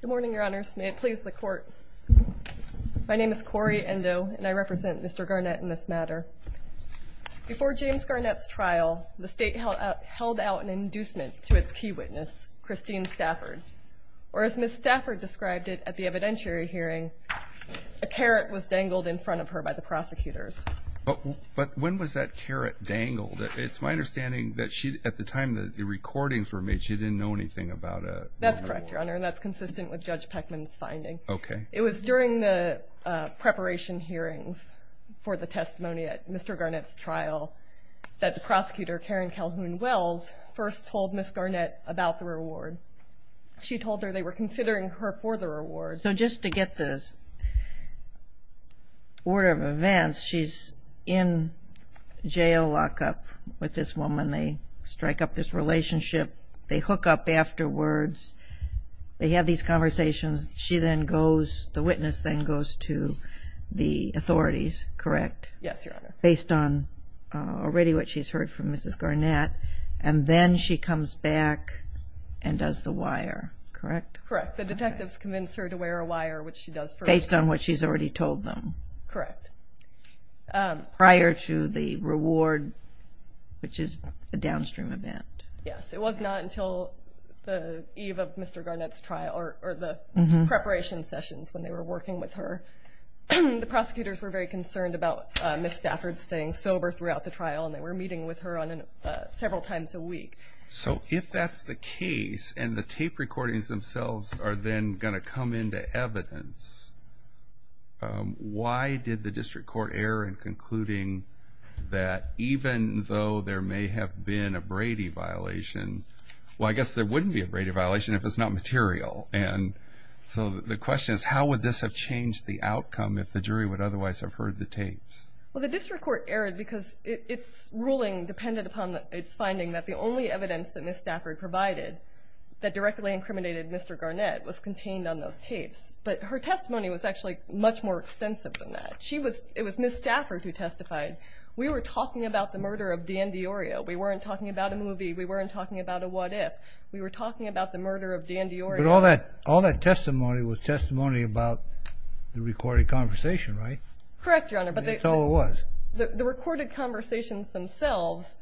Good morning, your honors. May it please the court. My name is Cori Endo, and I represent Mr. Garnett in this matter. Before James Garnett's trial, the state held out an inducement to its key witness, Christine Stafford. Or as Ms. Stafford described it at the evidentiary hearing, a carrot was dangled in front of her by the prosecutors. But when was that carrot dangled? It's my understanding that at the time the recordings were made, she didn't know anything about it. That's correct, your honor, and that's consistent with Judge Peckman's finding. Okay. It was during the preparation hearings for the testimony at Mr. Garnett's trial that the prosecutor, Karen Calhoun-Wells, first told Ms. Garnett about the reward. She told her they were considering her for the reward. So just to get this order of events, she's in jail lockup with this woman. They strike up this relationship. They hook up afterwards. They have these conversations. She then goes, the witness then goes to the authorities, correct? Yes, your honor. Based on already what she's heard from Mrs. Garnett, and then she comes back and does the wire, correct? Correct. The detectives convince her to wear a wire, which she does. Based on what she's already told them. Correct. Prior to the reward, which is a downstream event. Yes, it was not until the eve of Mr. Garnett's trial or the preparation sessions when they were working with her. The prosecutors were very concerned about Ms. Stafford staying sober throughout the trial, and they were meeting with her several times a week. So if that's the case and the tape recordings themselves are then going to come into evidence, why did the district court err in concluding that even though there may have been a Brady violation, well, I guess there wouldn't be a Brady violation if it's not material. And so the question is how would this have changed the outcome if the jury would otherwise have heard the tapes? Well, the district court erred because its ruling depended upon its finding that the only evidence that Ms. Stafford provided that directly incriminated Mr. Garnett was contained on those tapes. But her testimony was actually much more extensive than that. It was Ms. Stafford who testified. We were talking about the murder of Dan DiIorio. We weren't talking about a movie. We weren't talking about a what-if. We were talking about the murder of Dan DiIorio. But all that testimony was testimony about the recorded conversation, right? Correct, Your Honor. That's all it was. The recorded conversations themselves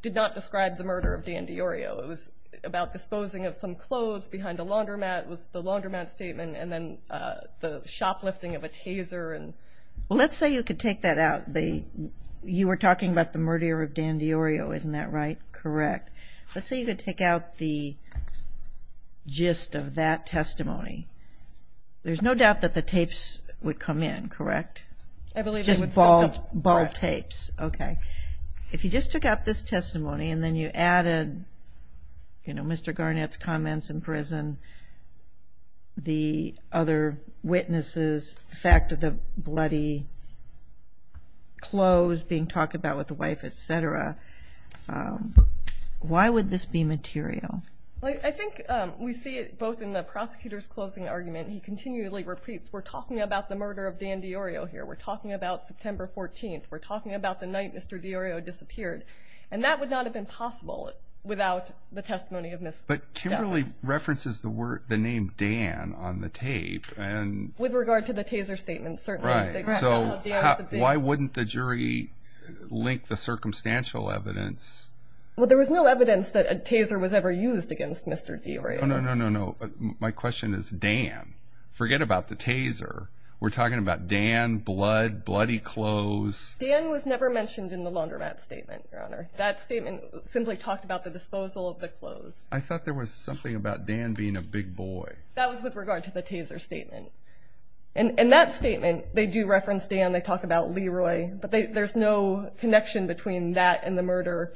did not describe the murder of Dan DiIorio. It was about disposing of some clothes behind a laundromat. It was the laundromat statement and then the shoplifting of a taser. Well, let's say you could take that out. You were talking about the murder of Dan DiIorio. Isn't that right? Correct. Let's say you could take out the gist of that testimony. There's no doubt that the tapes would come in, correct? I believe they would. Just bald tapes. Correct. Okay. If you just took out this testimony and then you added, you know, Mr. Garnett's comments in prison, the other witnesses, the fact of the bloody clothes being talked about with the wife, et cetera, why would this be material? I think we see it both in the prosecutor's closing argument. He continually repeats, we're talking about the murder of Dan DiIorio here. We're talking about September 14th. We're talking about the night Mr. DiIorio disappeared. And that would not have been possible without the testimony of Ms. Decker. But Kimberly references the name Dan on the tape. With regard to the taser statement, certainly. Right. So why wouldn't the jury link the circumstantial evidence? Well, there was no evidence that a taser was ever used against Mr. DiIorio. No, no, no, no. My question is Dan. Forget about the taser. We're talking about Dan, blood, bloody clothes. Dan was never mentioned in the laundromat statement, Your Honor. That statement simply talked about the disposal of the clothes. I thought there was something about Dan being a big boy. That was with regard to the taser statement. In that statement, they do reference Dan. They talk about Leroy. But there's no connection between that and the murder,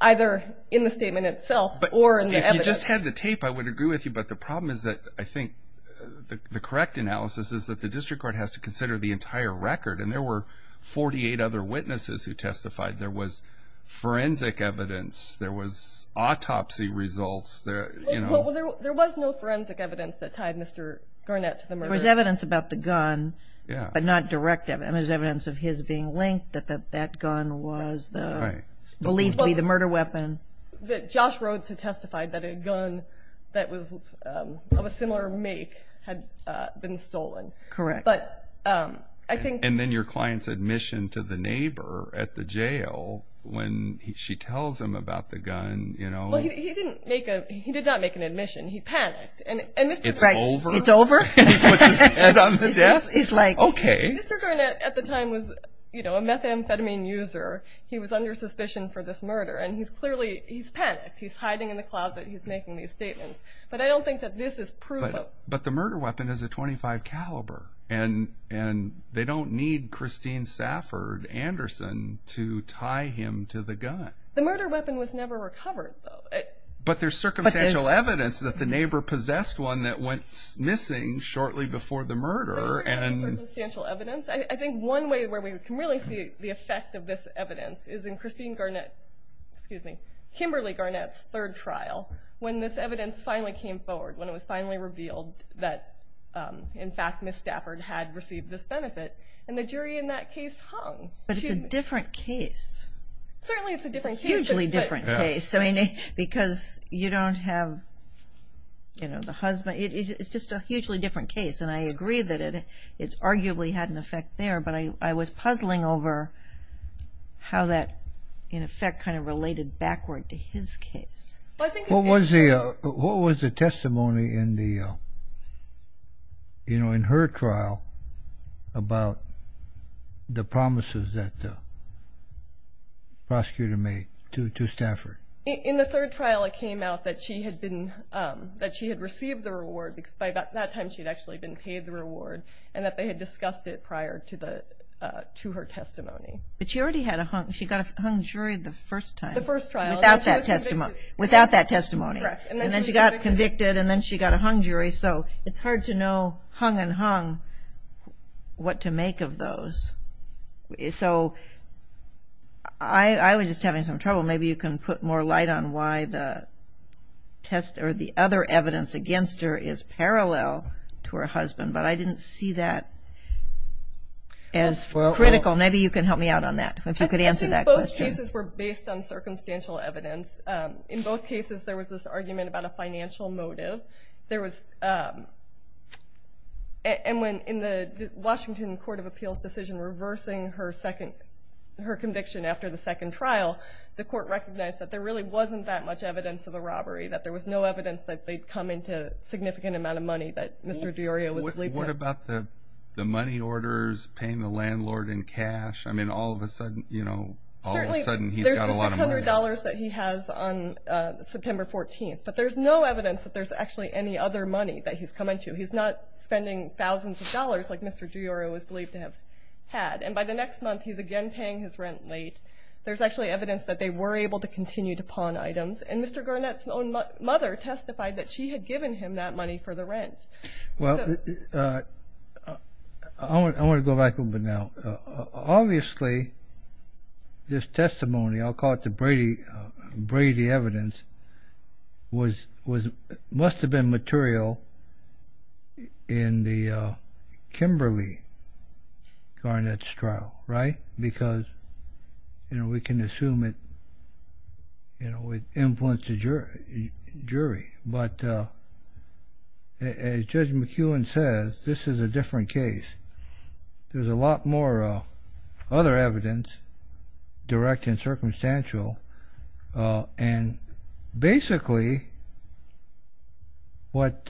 either in the statement itself or in the evidence. If you just had the tape, I would agree with you. But the problem is that I think the correct analysis is that the district court has to consider the entire record. And there were 48 other witnesses who testified. There was forensic evidence. There was autopsy results. Well, there was no forensic evidence that tied Mr. Garnett to the murder. There was evidence about the gun, but not direct evidence. There was evidence of his being linked, that that gun was believed to be the murder weapon. Josh Rhodes had testified that a gun that was of a similar make had been stolen. Correct. And then your client's admission to the neighbor at the jail when she tells him about the gun. Well, he did not make an admission. He panicked. It's over? He puts his head on the desk? Okay. Mr. Garnett at the time was a methamphetamine user. He was under suspicion for this murder, and he's clearly panicked. He's hiding in the closet. He's making these statements. But I don't think that this is proof. But the murder weapon is a .25 caliber, and they don't need Christine Safford Anderson to tie him to the gun. The murder weapon was never recovered, though. But there's circumstantial evidence that the neighbor possessed one that went missing shortly before the murder. There's circumstantial evidence. I think one way where we can really see the effect of this evidence is in Christine Garnett, Kimberly Garnett's third trial when this evidence finally came forward, when it was finally revealed that, in fact, Ms. Stafford had received this benefit. And the jury in that case hung. But it's a different case. Certainly it's a different case. It's a hugely different case because you don't have the husband. It's just a hugely different case, and I agree that it's arguably had an effect there. But I was puzzling over how that, in effect, kind of related backward to his case. What was the testimony in her trial about the promises that the prosecutor made to Stafford? In the third trial, it came out that she had received the reward because by that time she had actually been paid the reward and that they had discussed it prior to her testimony. But she already had a hung. She got a hung jury the first time. The first trial. Without that testimony. And then she got convicted, and then she got a hung jury. So it's hard to know, hung and hung, what to make of those. So I was just having some trouble. Maybe you can put more light on why the other evidence against her is parallel to her husband. But I didn't see that as critical. Maybe you can help me out on that, if you could answer that question. I think both cases were based on circumstantial evidence. In both cases there was this argument about a financial motive. And in the Washington Court of Appeals decision reversing her conviction after the second trial, the court recognized that there really wasn't that much evidence of a robbery, that there was no evidence that they'd come into a significant amount of money that Mr. DiIorio was believed to have. What about the money orders, paying the landlord in cash? I mean, all of a sudden he's got a lot of money. There's the $600 that he has on September 14th, but there's no evidence that there's actually any other money that he's come into. He's not spending thousands of dollars like Mr. DiIorio was believed to have had. And by the next month he's again paying his rent late. There's actually evidence that they were able to continue to pawn items. And Mr. Garnett's own mother testified that she had given him that money for the rent. Well, I want to go back a little bit now. Obviously this testimony, I'll call it the Brady evidence, must have been material in the Kimberly-Garnett trial, right? Because we can assume it influenced the jury. But as Judge McEwen says, this is a different case. There's a lot more other evidence, direct and circumstantial. And basically what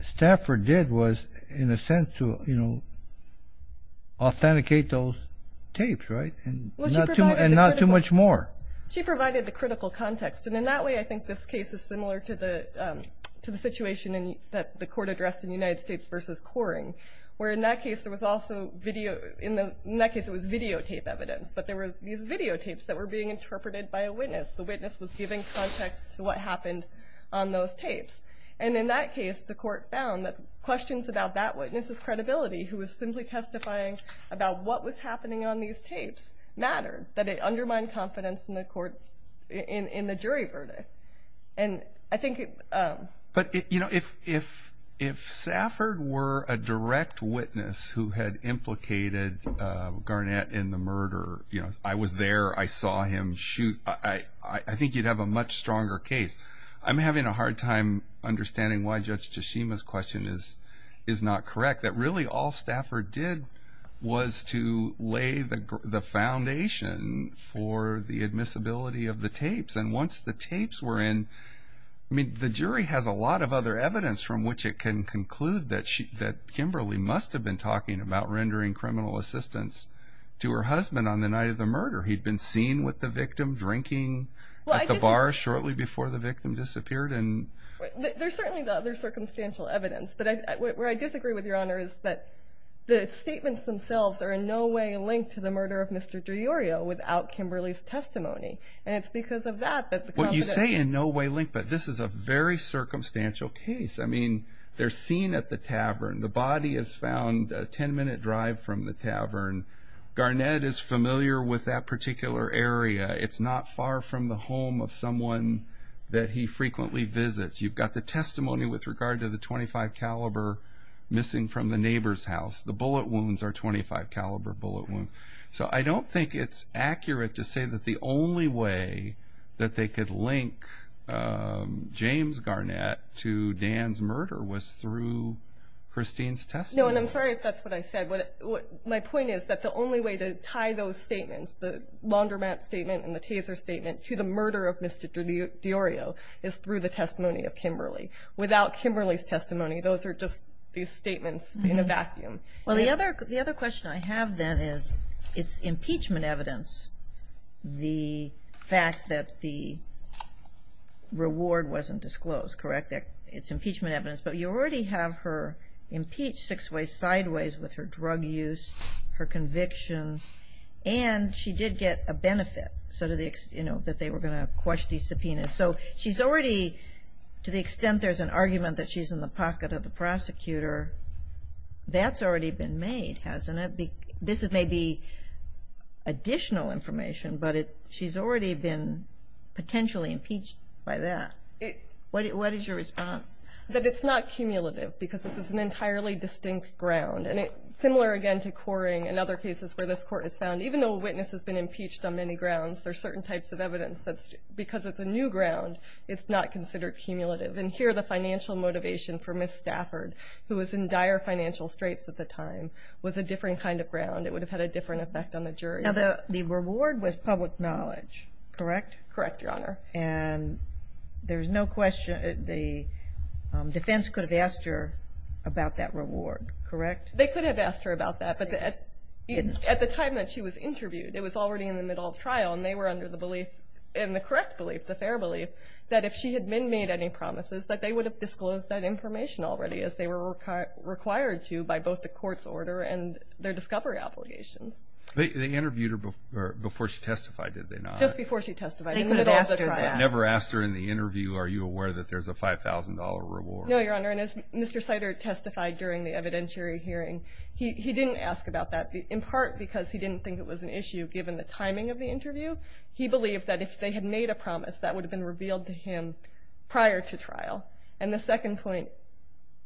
Stafford did was, in a sense, to authenticate those tapes, right? And not too much more. She provided the critical context. And in that way I think this case is similar to the situation that the court addressed in United States v. Coring, where in that case it was videotape evidence, but there were these videotapes that were being interpreted by a witness. The witness was giving context to what happened on those tapes. And in that case the court found that questions about that witness's credibility, who was simply testifying about what was happening on these tapes, mattered. That it undermined confidence in the jury verdict. But if Stafford were a direct witness who had implicated Garnett in the murder, I was there, I saw him shoot, I think you'd have a much stronger case. I'm having a hard time understanding why Judge Tshishima's question is not correct, that really all Stafford did was to lay the foundation for the admissibility of the tapes. And once the tapes were in, I mean, the jury has a lot of other evidence from which it can conclude that Kimberly must have been talking about rendering criminal assistance to her husband on the night of the murder. He'd been seen with the victim drinking at the bar shortly before the victim disappeared. There's certainly other circumstantial evidence. But where I disagree with Your Honor is that the statements themselves are in no way linked to the murder of Mr. DiIorio without Kimberly's testimony, and it's because of that that the confidence... What you say in no way linked, but this is a very circumstantial case. I mean, they're seen at the tavern. The body is found a 10-minute drive from the tavern. Garnett is familiar with that particular area. It's not far from the home of someone that he frequently visits. You've got the testimony with regard to the .25 caliber missing from the neighbor's house. The bullet wounds are .25 caliber bullet wounds. So I don't think it's accurate to say that the only way that they could link James Garnett to Dan's murder was through Christine's testimony. No, and I'm sorry if that's what I said. My point is that the only way to tie those statements, the laundromat statement and the taser statement, to the murder of Mr. DiIorio is through the testimony of Kimberly. Without Kimberly's testimony, those are just these statements in a vacuum. Well, the other question I have then is it's impeachment evidence, the fact that the reward wasn't disclosed, correct? It's impeachment evidence. But you already have her impeached six ways sideways with her drug use, her convictions, and she did get a benefit that they were going to quash the subpoena. So she's already, to the extent there's an argument that she's in the pocket of the prosecutor, that's already been made, hasn't it? This may be additional information, but she's already been potentially impeached by that. What is your response? That it's not cumulative because this is an entirely distinct ground. And similar again to Coring and other cases where this court has found, even though a witness has been impeached on many grounds, there are certain types of evidence that because it's a new ground, it's not considered cumulative. And here the financial motivation for Ms. Stafford, who was in dire financial straits at the time, was a different kind of ground. It would have had a different effect on the jury. Now, the reward was public knowledge, correct? Correct, Your Honor. And there's no question the defense could have asked her about that reward, correct? They could have asked her about that, but at the time that she was interviewed, it was already in the middle of trial, and they were under the belief, and the correct belief, the fair belief, that if she had been made any promises, that they would have disclosed that information already as they were required to by both the court's order and their discovery obligations. They interviewed her before she testified, did they not? Just before she testified. They could have asked her that. Never asked her in the interview, are you aware that there's a $5,000 reward? No, Your Honor, and as Mr. Sider testified during the evidentiary hearing, he didn't ask about that in part because he didn't think it was an issue, given the timing of the interview. He believed that if they had made a promise, that would have been revealed to him prior to trial. And the second point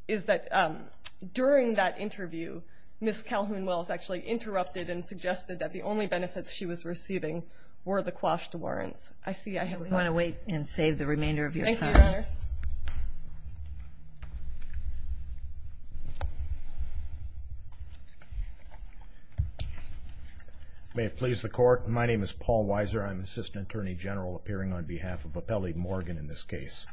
is that during that interview, Ms. Calhoun-Wells actually interrupted and suggested that the only benefits she was receiving were the quashed warrants. I see I have one. We want to wait and save the remainder of your time. Thank you, Your Honor. May it please the Court. My name is Paul Weiser. I'm Assistant Attorney General, appearing on behalf of Appellee Morgan in this case.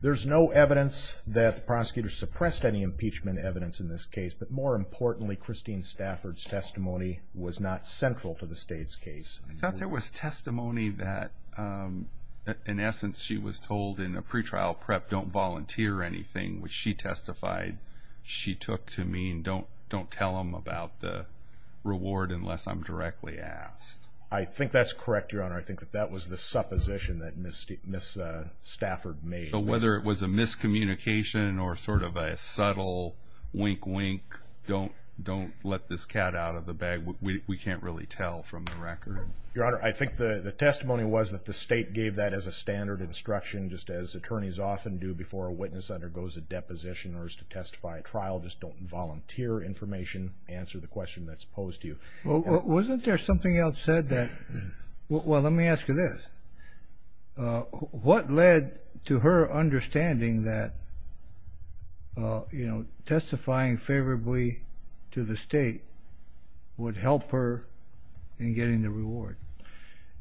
There's no evidence that the prosecutor suppressed any impeachment evidence in this case, but more importantly, Christine Stafford's testimony was not central to the State's case. I thought there was testimony that, in essence, she was told in a pretrial prep, don't volunteer anything, which she testified she took to mean don't tell them about the reward unless I'm directly asked. I think that's correct, Your Honor. I think that that was the supposition that Ms. Stafford made. So whether it was a miscommunication or sort of a subtle wink, wink, don't let this cat out of the bag. We can't really tell from the record. Your Honor, I think the testimony was that the State gave that as a standard instruction, just as attorneys often do before a witness undergoes a deposition or is to testify at trial, just don't volunteer information. Answer the question that's posed to you. Well, wasn't there something else said that? Well, let me ask you this. What led to her understanding that, you know, testifying favorably to the State would help her in getting the reward?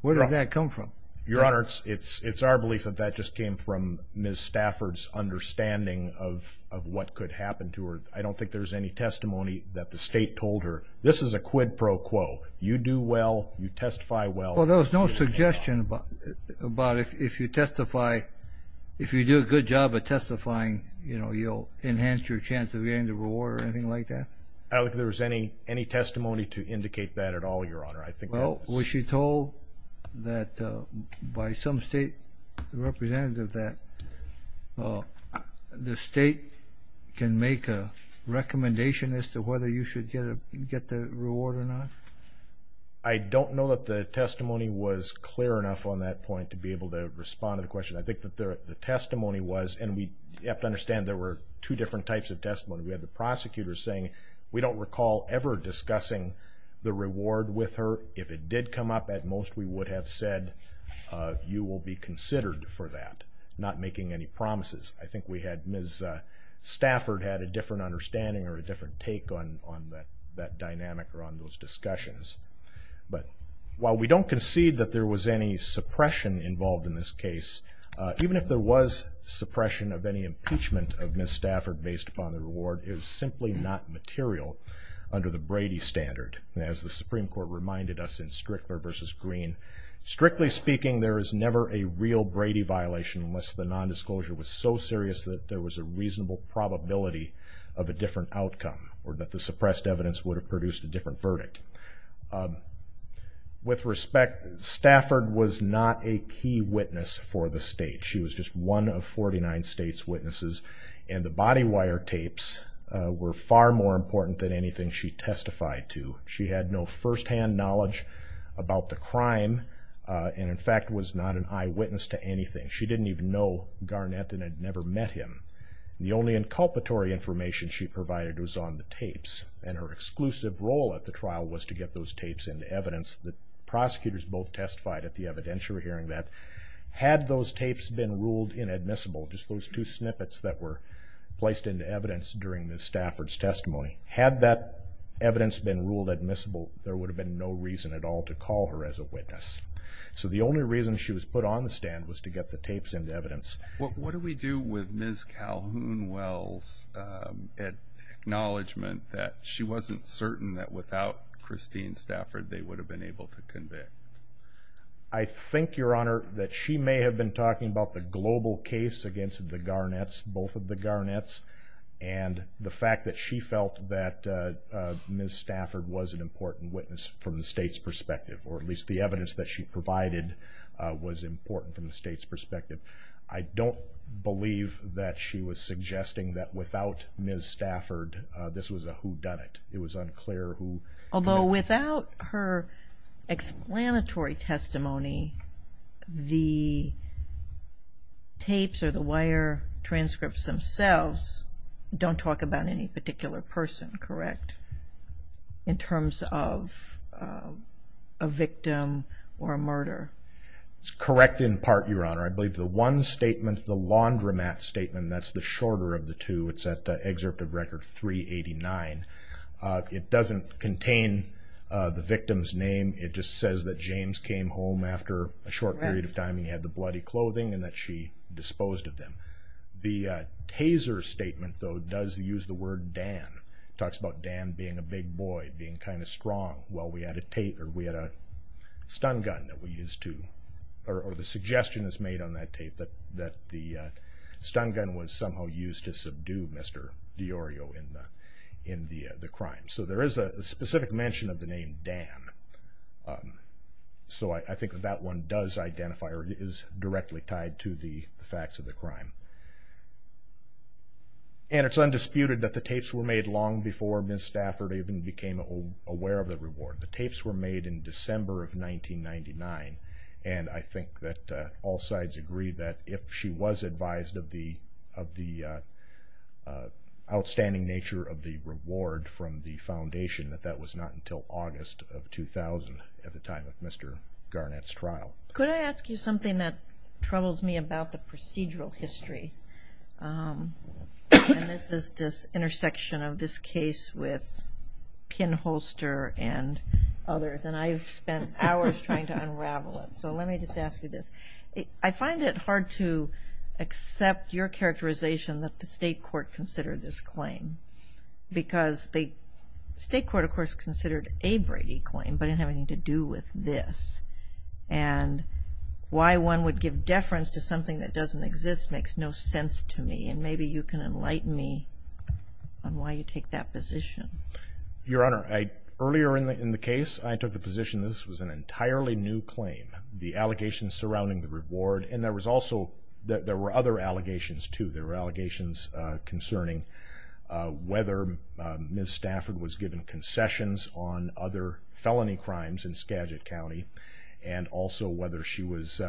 Where did that come from? Your Honor, it's our belief that that just came from Ms. Stafford's understanding of what could happen to her. I don't think there's any testimony that the State told her, this is a quid pro quo. You do well. You testify well. Well, there was no suggestion about if you testify, if you do a good job of testifying, you know, you'll enhance your chance of getting the reward or anything like that? I don't think there was any testimony to indicate that at all, Your Honor. Well, was she told that by some State representative that the State can make a recommendation as to whether you should get the reward or not? I don't know that the testimony was clear enough on that point to be able to respond to the question. I think that the testimony was, and we have to understand there were two different types of testimony. We had the prosecutor saying, we don't recall ever discussing the reward with her. If it did come up, at most we would have said you will be considered for that, not making any promises. I think Ms. Stafford had a different understanding or a different take on that dynamic or on those discussions. But while we don't concede that there was any suppression involved in this case, even if there was suppression of any impeachment of Ms. Stafford based upon the reward, it was simply not material under the Brady standard. As the Supreme Court reminded us in Strickler v. Green, strictly speaking, there is never a real Brady violation unless the nondisclosure was so serious that there was a reasonable probability of a different outcome or that the suppressed evidence would have produced a different verdict. With respect, Stafford was not a key witness for the State. She was just one of 49 States' witnesses, and the body wire tapes were far more important than anything she testified to. She had no firsthand knowledge about the crime, and in fact was not an eyewitness to anything. She didn't even know Garnett and had never met him. The only inculpatory information she provided was on the tapes, and her exclusive role at the trial was to get those tapes into evidence. The prosecutors both testified at the evidentiary hearing that had those tapes been ruled inadmissible, just those two snippets that were placed into evidence during the Stafford's testimony, had that evidence been ruled admissible, there would have been no reason at all to call her as a witness. So the only reason she was put on the stand was to get the tapes into evidence. What do we do with Ms. Calhoun-Wells' acknowledgement that she wasn't certain that without Christine Stafford they would have been able to convict? I think, Your Honor, that she may have been talking about the global case against the Garnetts, both of the Garnetts, and the fact that she felt that Ms. Stafford was an important witness from the State's perspective, or at least the evidence that she provided was important from the State's perspective. I don't believe that she was suggesting that without Ms. Stafford this was a whodunit. It was unclear who. Although without her explanatory testimony, the tapes or the wire transcripts themselves don't talk about any particular person, correct, in terms of a victim or a murder? It's correct in part, Your Honor. I believe the one statement, the laundromat statement, that's the shorter of the two. It's at excerpt of Record 389. It doesn't contain the victim's name. It just says that James came home after a short period of time and he had the bloody clothing and that she disposed of them. The taser statement, though, does use the word Dan. It talks about Dan being a big boy, being kind of strong, while we had a stun gun that we used to, or the suggestion is made on that tape that the stun gun was somehow used to subdue Mr. D'Orio in the crime. So there is a specific mention of the name Dan. So I think that that one does identify or is directly tied to the facts of the crime. And it's undisputed that the tapes were made long before Ms. Stafford even became aware of the reward. The tapes were made in December of 1999 and I think that all sides agree that if she was advised of the outstanding nature of the reward from the state court, she would have been able to get the reward of $3,000 at the time of Mr. Garnett's trial. Could I ask you something that troubles me about the procedural history? And this is this intersection of this case with Pinholster and others. And I've spent hours trying to unravel it. So let me just ask you this. I find it hard to accept your characterization that the state court considered this claim because the state court, of course, considered a Brady claim but didn't have anything to do with this. And why one would give deference to something that doesn't exist makes no sense to me. And maybe you can enlighten me on why you take that position. Your Honor, earlier in the case I took the position this was an entirely new claim. The allegations surrounding the reward and there was also, there were other allegations too. There were allegations concerning whether Ms. Garnett had made concessions on other felony crimes in Skagit County and also whether she was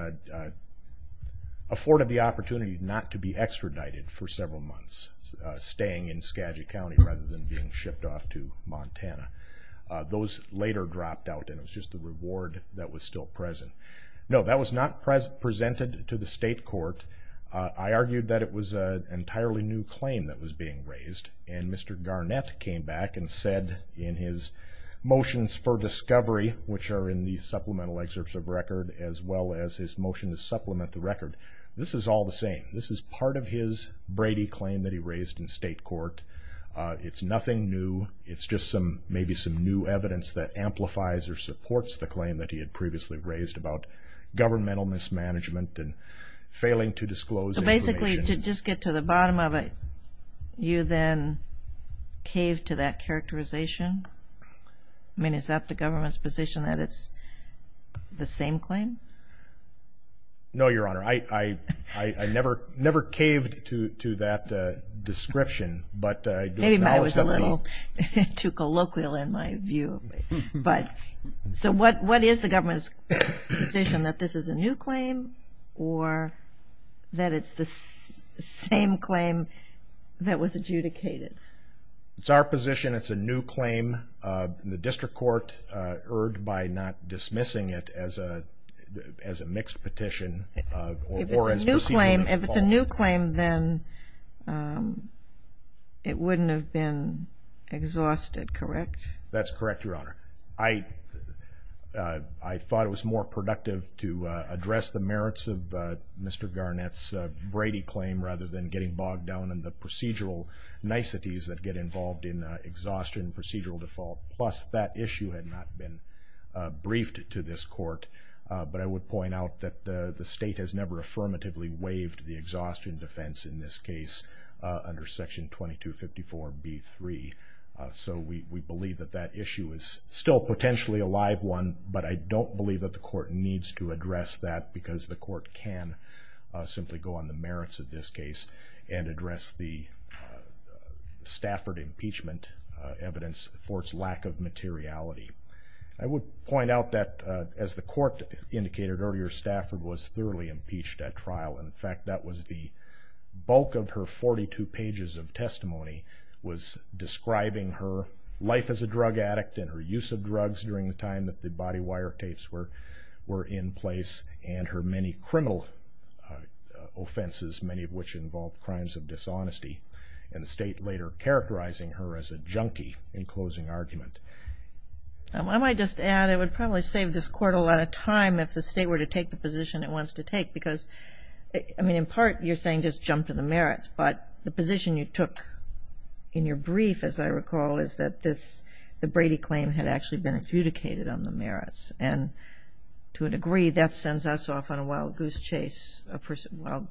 afforded the opportunity not to be extradited for several months, staying in Skagit County rather than being shipped off to Montana. Those later dropped out and it was just the reward that was still present. No, that was not presented to the state court. I argued that it was an entirely new claim that was being raised. And Mr. Garnett came back and said in his motions for discovery, which are in the supplemental excerpts of record, as well as his motion to supplement the record, this is all the same. This is part of his Brady claim that he raised in state court. It's nothing new. It's just some, maybe some new evidence that amplifies or supports the claim that he had previously raised about governmental mismanagement and failing to disclose. So basically to just get to the bottom of it, you then cave to that characterization. I mean, is that the government's position that it's the same claim? No, Your Honor. I never, never caved to that description, but maybe I was a little too colloquial in my view. But so what, what is the government's position that this is a new claim or that it's the same claim that was adjudicated? It's our position it's a new claim. The district court erred by not dismissing it as a mixed petition. If it's a new claim, if it's a new claim, then it wouldn't have been exhausted, correct? That's correct, Your Honor. I, I thought it was more productive to address the merits of Mr. Garnett's Brady claim rather than getting bogged down in the procedural niceties that get involved in exhaustion and procedural default. Plus that issue had not been briefed to this court. But I would point out that the state has never affirmatively waived the exhaustion defense in this case under section 2254 B3. So we, we believe that that issue is still potentially a live one, but I don't believe that the court needs to address that because the court can simply go on the merits of this case and address the Stafford impeachment evidence for its lack of materiality. I would point out that as the court indicated earlier, Stafford was thoroughly impeached at trial. And in fact, that was the bulk of her 42 pages of testimony was describing her life as a drug addict and her use of drugs during the time that the body wire tapes were, were in place and her many criminal offenses, many of which involve crimes of dishonesty and the state later characterizing her as a junkie in closing argument. I might just add, it would probably save this court a lot of time if the state were to take the jump to the merits. But the position you took in your brief, as I recall, is that this, the Brady claim had actually been adjudicated on the merits. And to a degree that sends us off on a wild goose chase, a procedural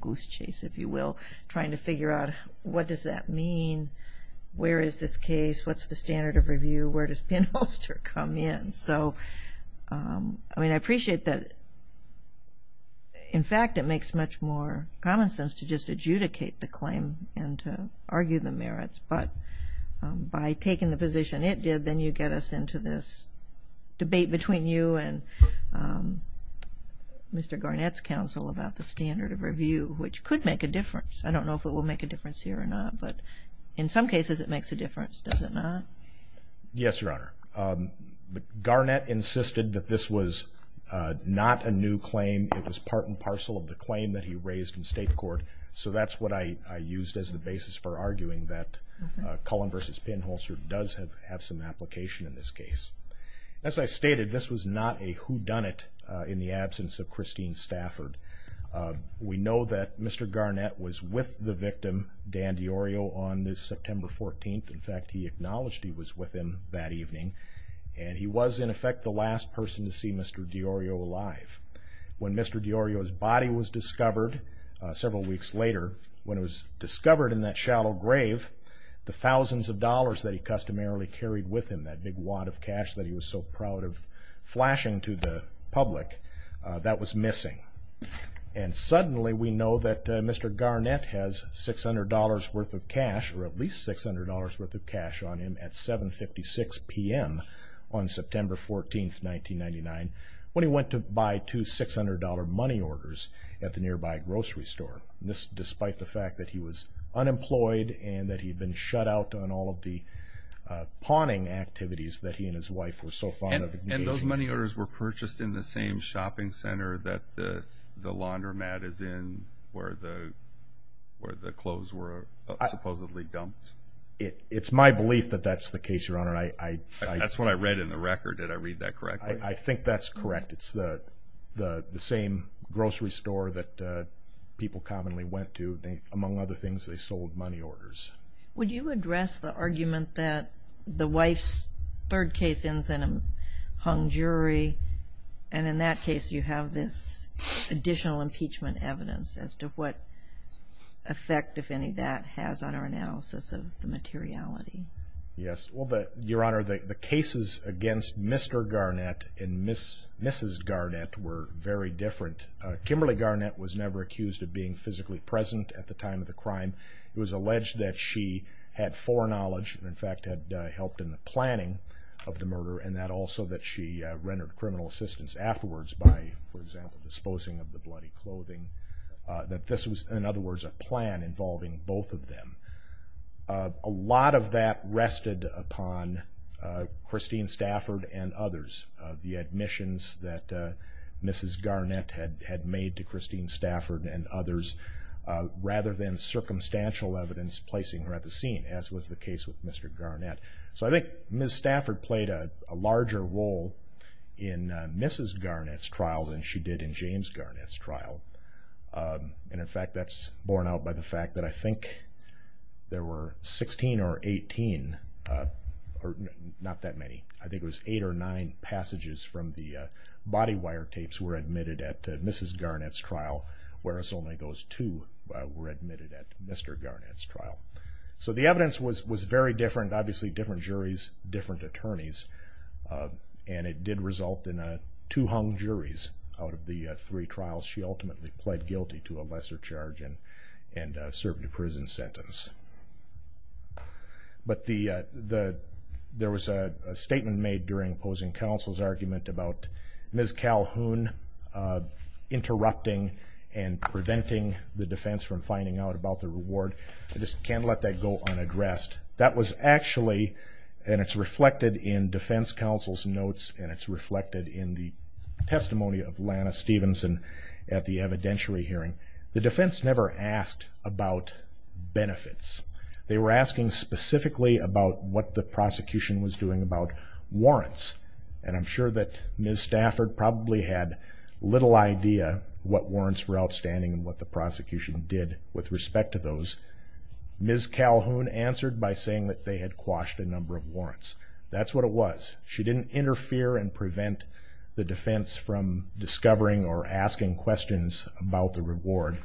goose chase, if you will, trying to figure out what does that mean? Where is this case? What's the standard of review? Where does pinholster come in? So, I mean, I appreciate that. In fact, it makes much more common sense to just adjudicate the claim and to argue the merits. But by taking the position it did, then you get us into this debate between you and Mr. Garnett's counsel about the standard of review, which could make a difference. I don't know if it will make a difference here or not, but in some cases it makes a difference. Does it not? Yes, Your Honor. Garnett insisted that this was not a new claim. It was part and parcel of the claim that he raised in state court. So that's what I used as the basis for arguing that Cullen v. Pinholster does have some application in this case. As I stated, this was not a whodunit in the absence of Christine Stafford. We know that Mr. Garnett was with the victim, Dan DiOrio, on this September 14th. In fact, he acknowledged he was with him that evening. And he was, in effect, the last person to see Mr. DiOrio alive. When Mr. DiOrio's body was discovered several weeks later, when it was discovered in that shallow grave, the thousands of dollars that he customarily carried with him, that big wad of cash that he was so proud of flashing to the public, that was missing. And suddenly we know that Mr. Garnett has $600 worth of cash, or at least $600 worth of cash, on him at 7.56 p.m. on September 14th, 1999, when he went to buy two $600 money orders at the nearby grocery store. This, despite the fact that he was unemployed and that he had been shut out on all of the pawning activities that he and his wife were so fond of. And those money orders were purchased in the same shopping center that the laundromat is in where the clothes were supposedly dumped. It's my belief that that's the case, Your Honor. That's what I read in the record. Did I read that correctly? I think that's correct. It's the same grocery store that people commonly went to. Among other things, they sold money orders. Would you address the argument that the wife's third case ends in a hung jury, and in that case you have this additional impeachment evidence as to what effect, if any, that has on our analysis of the materiality? Yes. Well, Your Honor, the cases against Mr. Garnett and Mrs. Garnett were very different. Kimberly Garnett was never accused of being physically present at the time of the crime. It was alleged that she had foreknowledge and, in fact, had helped in the planning of the murder, and that also that she rendered criminal assistance afterwards by, for example, disposing of the bloody clothing. That this was, in other words, a plan involving both of them. A lot of that rested upon Christine Stafford and others. The admissions that Mrs. Garnett had made to Christine Stafford and others, rather than circumstantial evidence placing her at the scene, as was the case with Mr. Garnett. So I think Mrs. Garnett's trial than she did in James Garnett's trial. And, in fact, that's borne out by the fact that I think there were 16 or 18, or not that many. I think it was eight or nine passages from the body wire tapes were admitted at Mrs. Garnett's trial, whereas only those two were admitted at Mr. Garnett's trial. So the evidence was very different. Obviously, different juries, different attorneys, and it did result in two hung juries out of the three trials she ultimately pled guilty to a lesser charge and served a prison sentence. But there was a statement made during opposing counsel's argument about Ms. Calhoun interrupting and preventing the defense from finding out about the reward. I just can't let that go unaddressed. That was actually, and it's reflected in defense counsel's notes and it's reflected in the testimony of Lana Stevenson at the evidentiary hearing. The defense never asked about benefits. They were asking specifically about what the prosecution was doing about warrants. And I'm sure that Ms. Stafford probably had little idea what warrants were outstanding and what the prosecution did with respect to those. Ms. Calhoun answered by saying that they had quashed a number of warrants. That's what it was. She didn't interfere and prevent the defense from discovering or asking questions about the reward.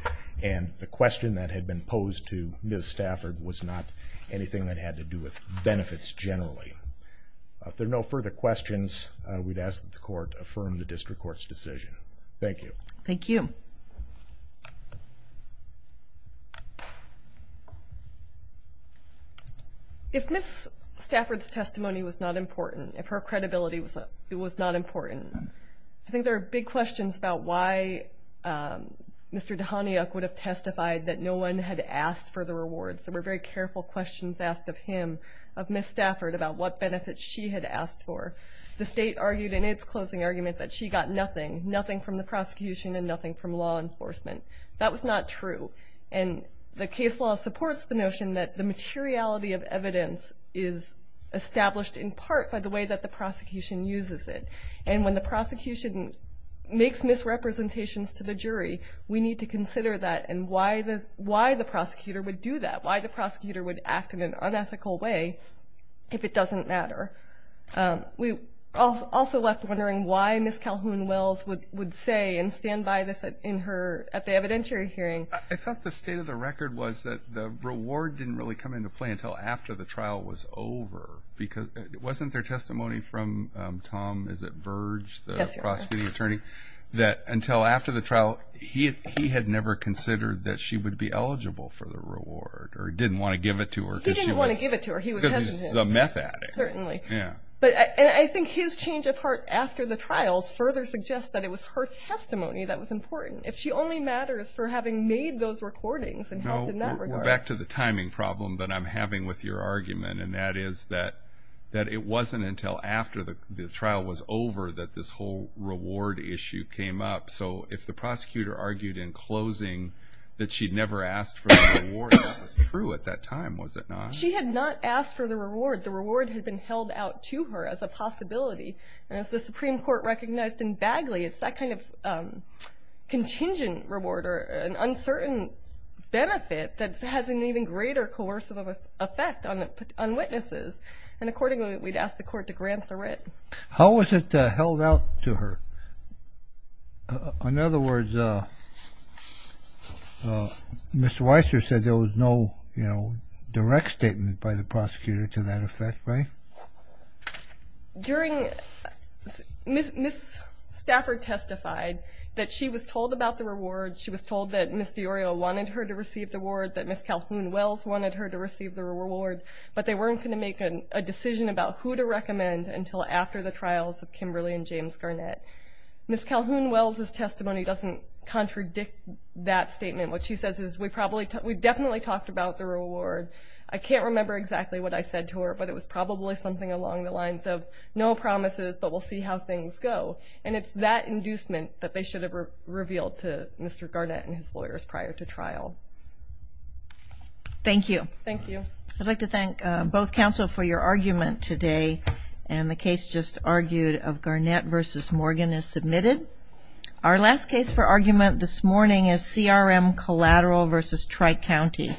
And the question that had been posed to Ms. Stafford was not anything that had to do with benefits generally. If there are no further questions, we'd ask that the court affirm the district court's decision. Thank you. Thank you. Thank you. If Ms. Stafford's testimony was not important, if her credibility was not important, I think there are big questions about why Mr. Dhaniuk would have testified that no one had asked for the rewards. There were very careful questions asked of him, of Ms. Stafford, about what benefits she had asked for. The state argued in its closing argument that she got nothing, nothing from the prosecution and nothing from law enforcement. That was not true. And the case law supports the notion that the materiality of evidence is established in part by the way that the prosecution uses it. And when the prosecution makes misrepresentations to the jury, we need to consider that and why the prosecutor would do that, why the prosecutor would act in an unethical way if it doesn't matter. We also left wondering why Ms. Calhoun-Wells would say and stand by this at the evidentiary hearing. I thought the state of the record was that the reward didn't really come into play until after the trial was over. Wasn't there testimony from Tom, is it Verge, the prosecuting attorney, that until after the trial, he had never considered that she would be eligible for the reward or didn't want to give it to her because she was a meth addict? Certainly. But I think his change of heart after the trials further suggests that it was her testimony that was important. If she only matters for having made those recordings and helped in that regard. No, we're back to the timing problem that I'm having with your argument, and that is that it wasn't until after the trial was over that this whole reward issue came up. So if the prosecutor argued in closing that she'd never asked for the reward, that was true at that time, was it not? She had not asked for the reward. The reward had been held out to her as a possibility. And as the Supreme Court recognized in Bagley, it's that kind of contingent reward or an uncertain benefit that has an even greater coercive effect on witnesses. And accordingly, we'd ask the court to grant the writ. How was it held out to her? In other words, Mr. Weister said there was no direct statement by the witness that way? During Ms. Stafford testified that she was told about the reward. She was told that Ms. DiOrio wanted her to receive the reward, that Ms. Calhoun-Wells wanted her to receive the reward. But they weren't going to make a decision about who to recommend until after the trials of Kimberly and James Garnett. Ms. Calhoun-Wells' testimony doesn't contradict that statement. What she says is we definitely talked about the reward. I can't remember exactly what I said to her, but it was probably something along the lines of no promises, but we'll see how things go. And it's that inducement that they should have revealed to Mr. Garnett and his lawyers prior to trial. Thank you. Thank you. I'd like to thank both counsel for your argument today. And the case just argued of Garnett v. Morgan is submitted. Our last case for argument this morning is CRM Collateral v. Tri-County.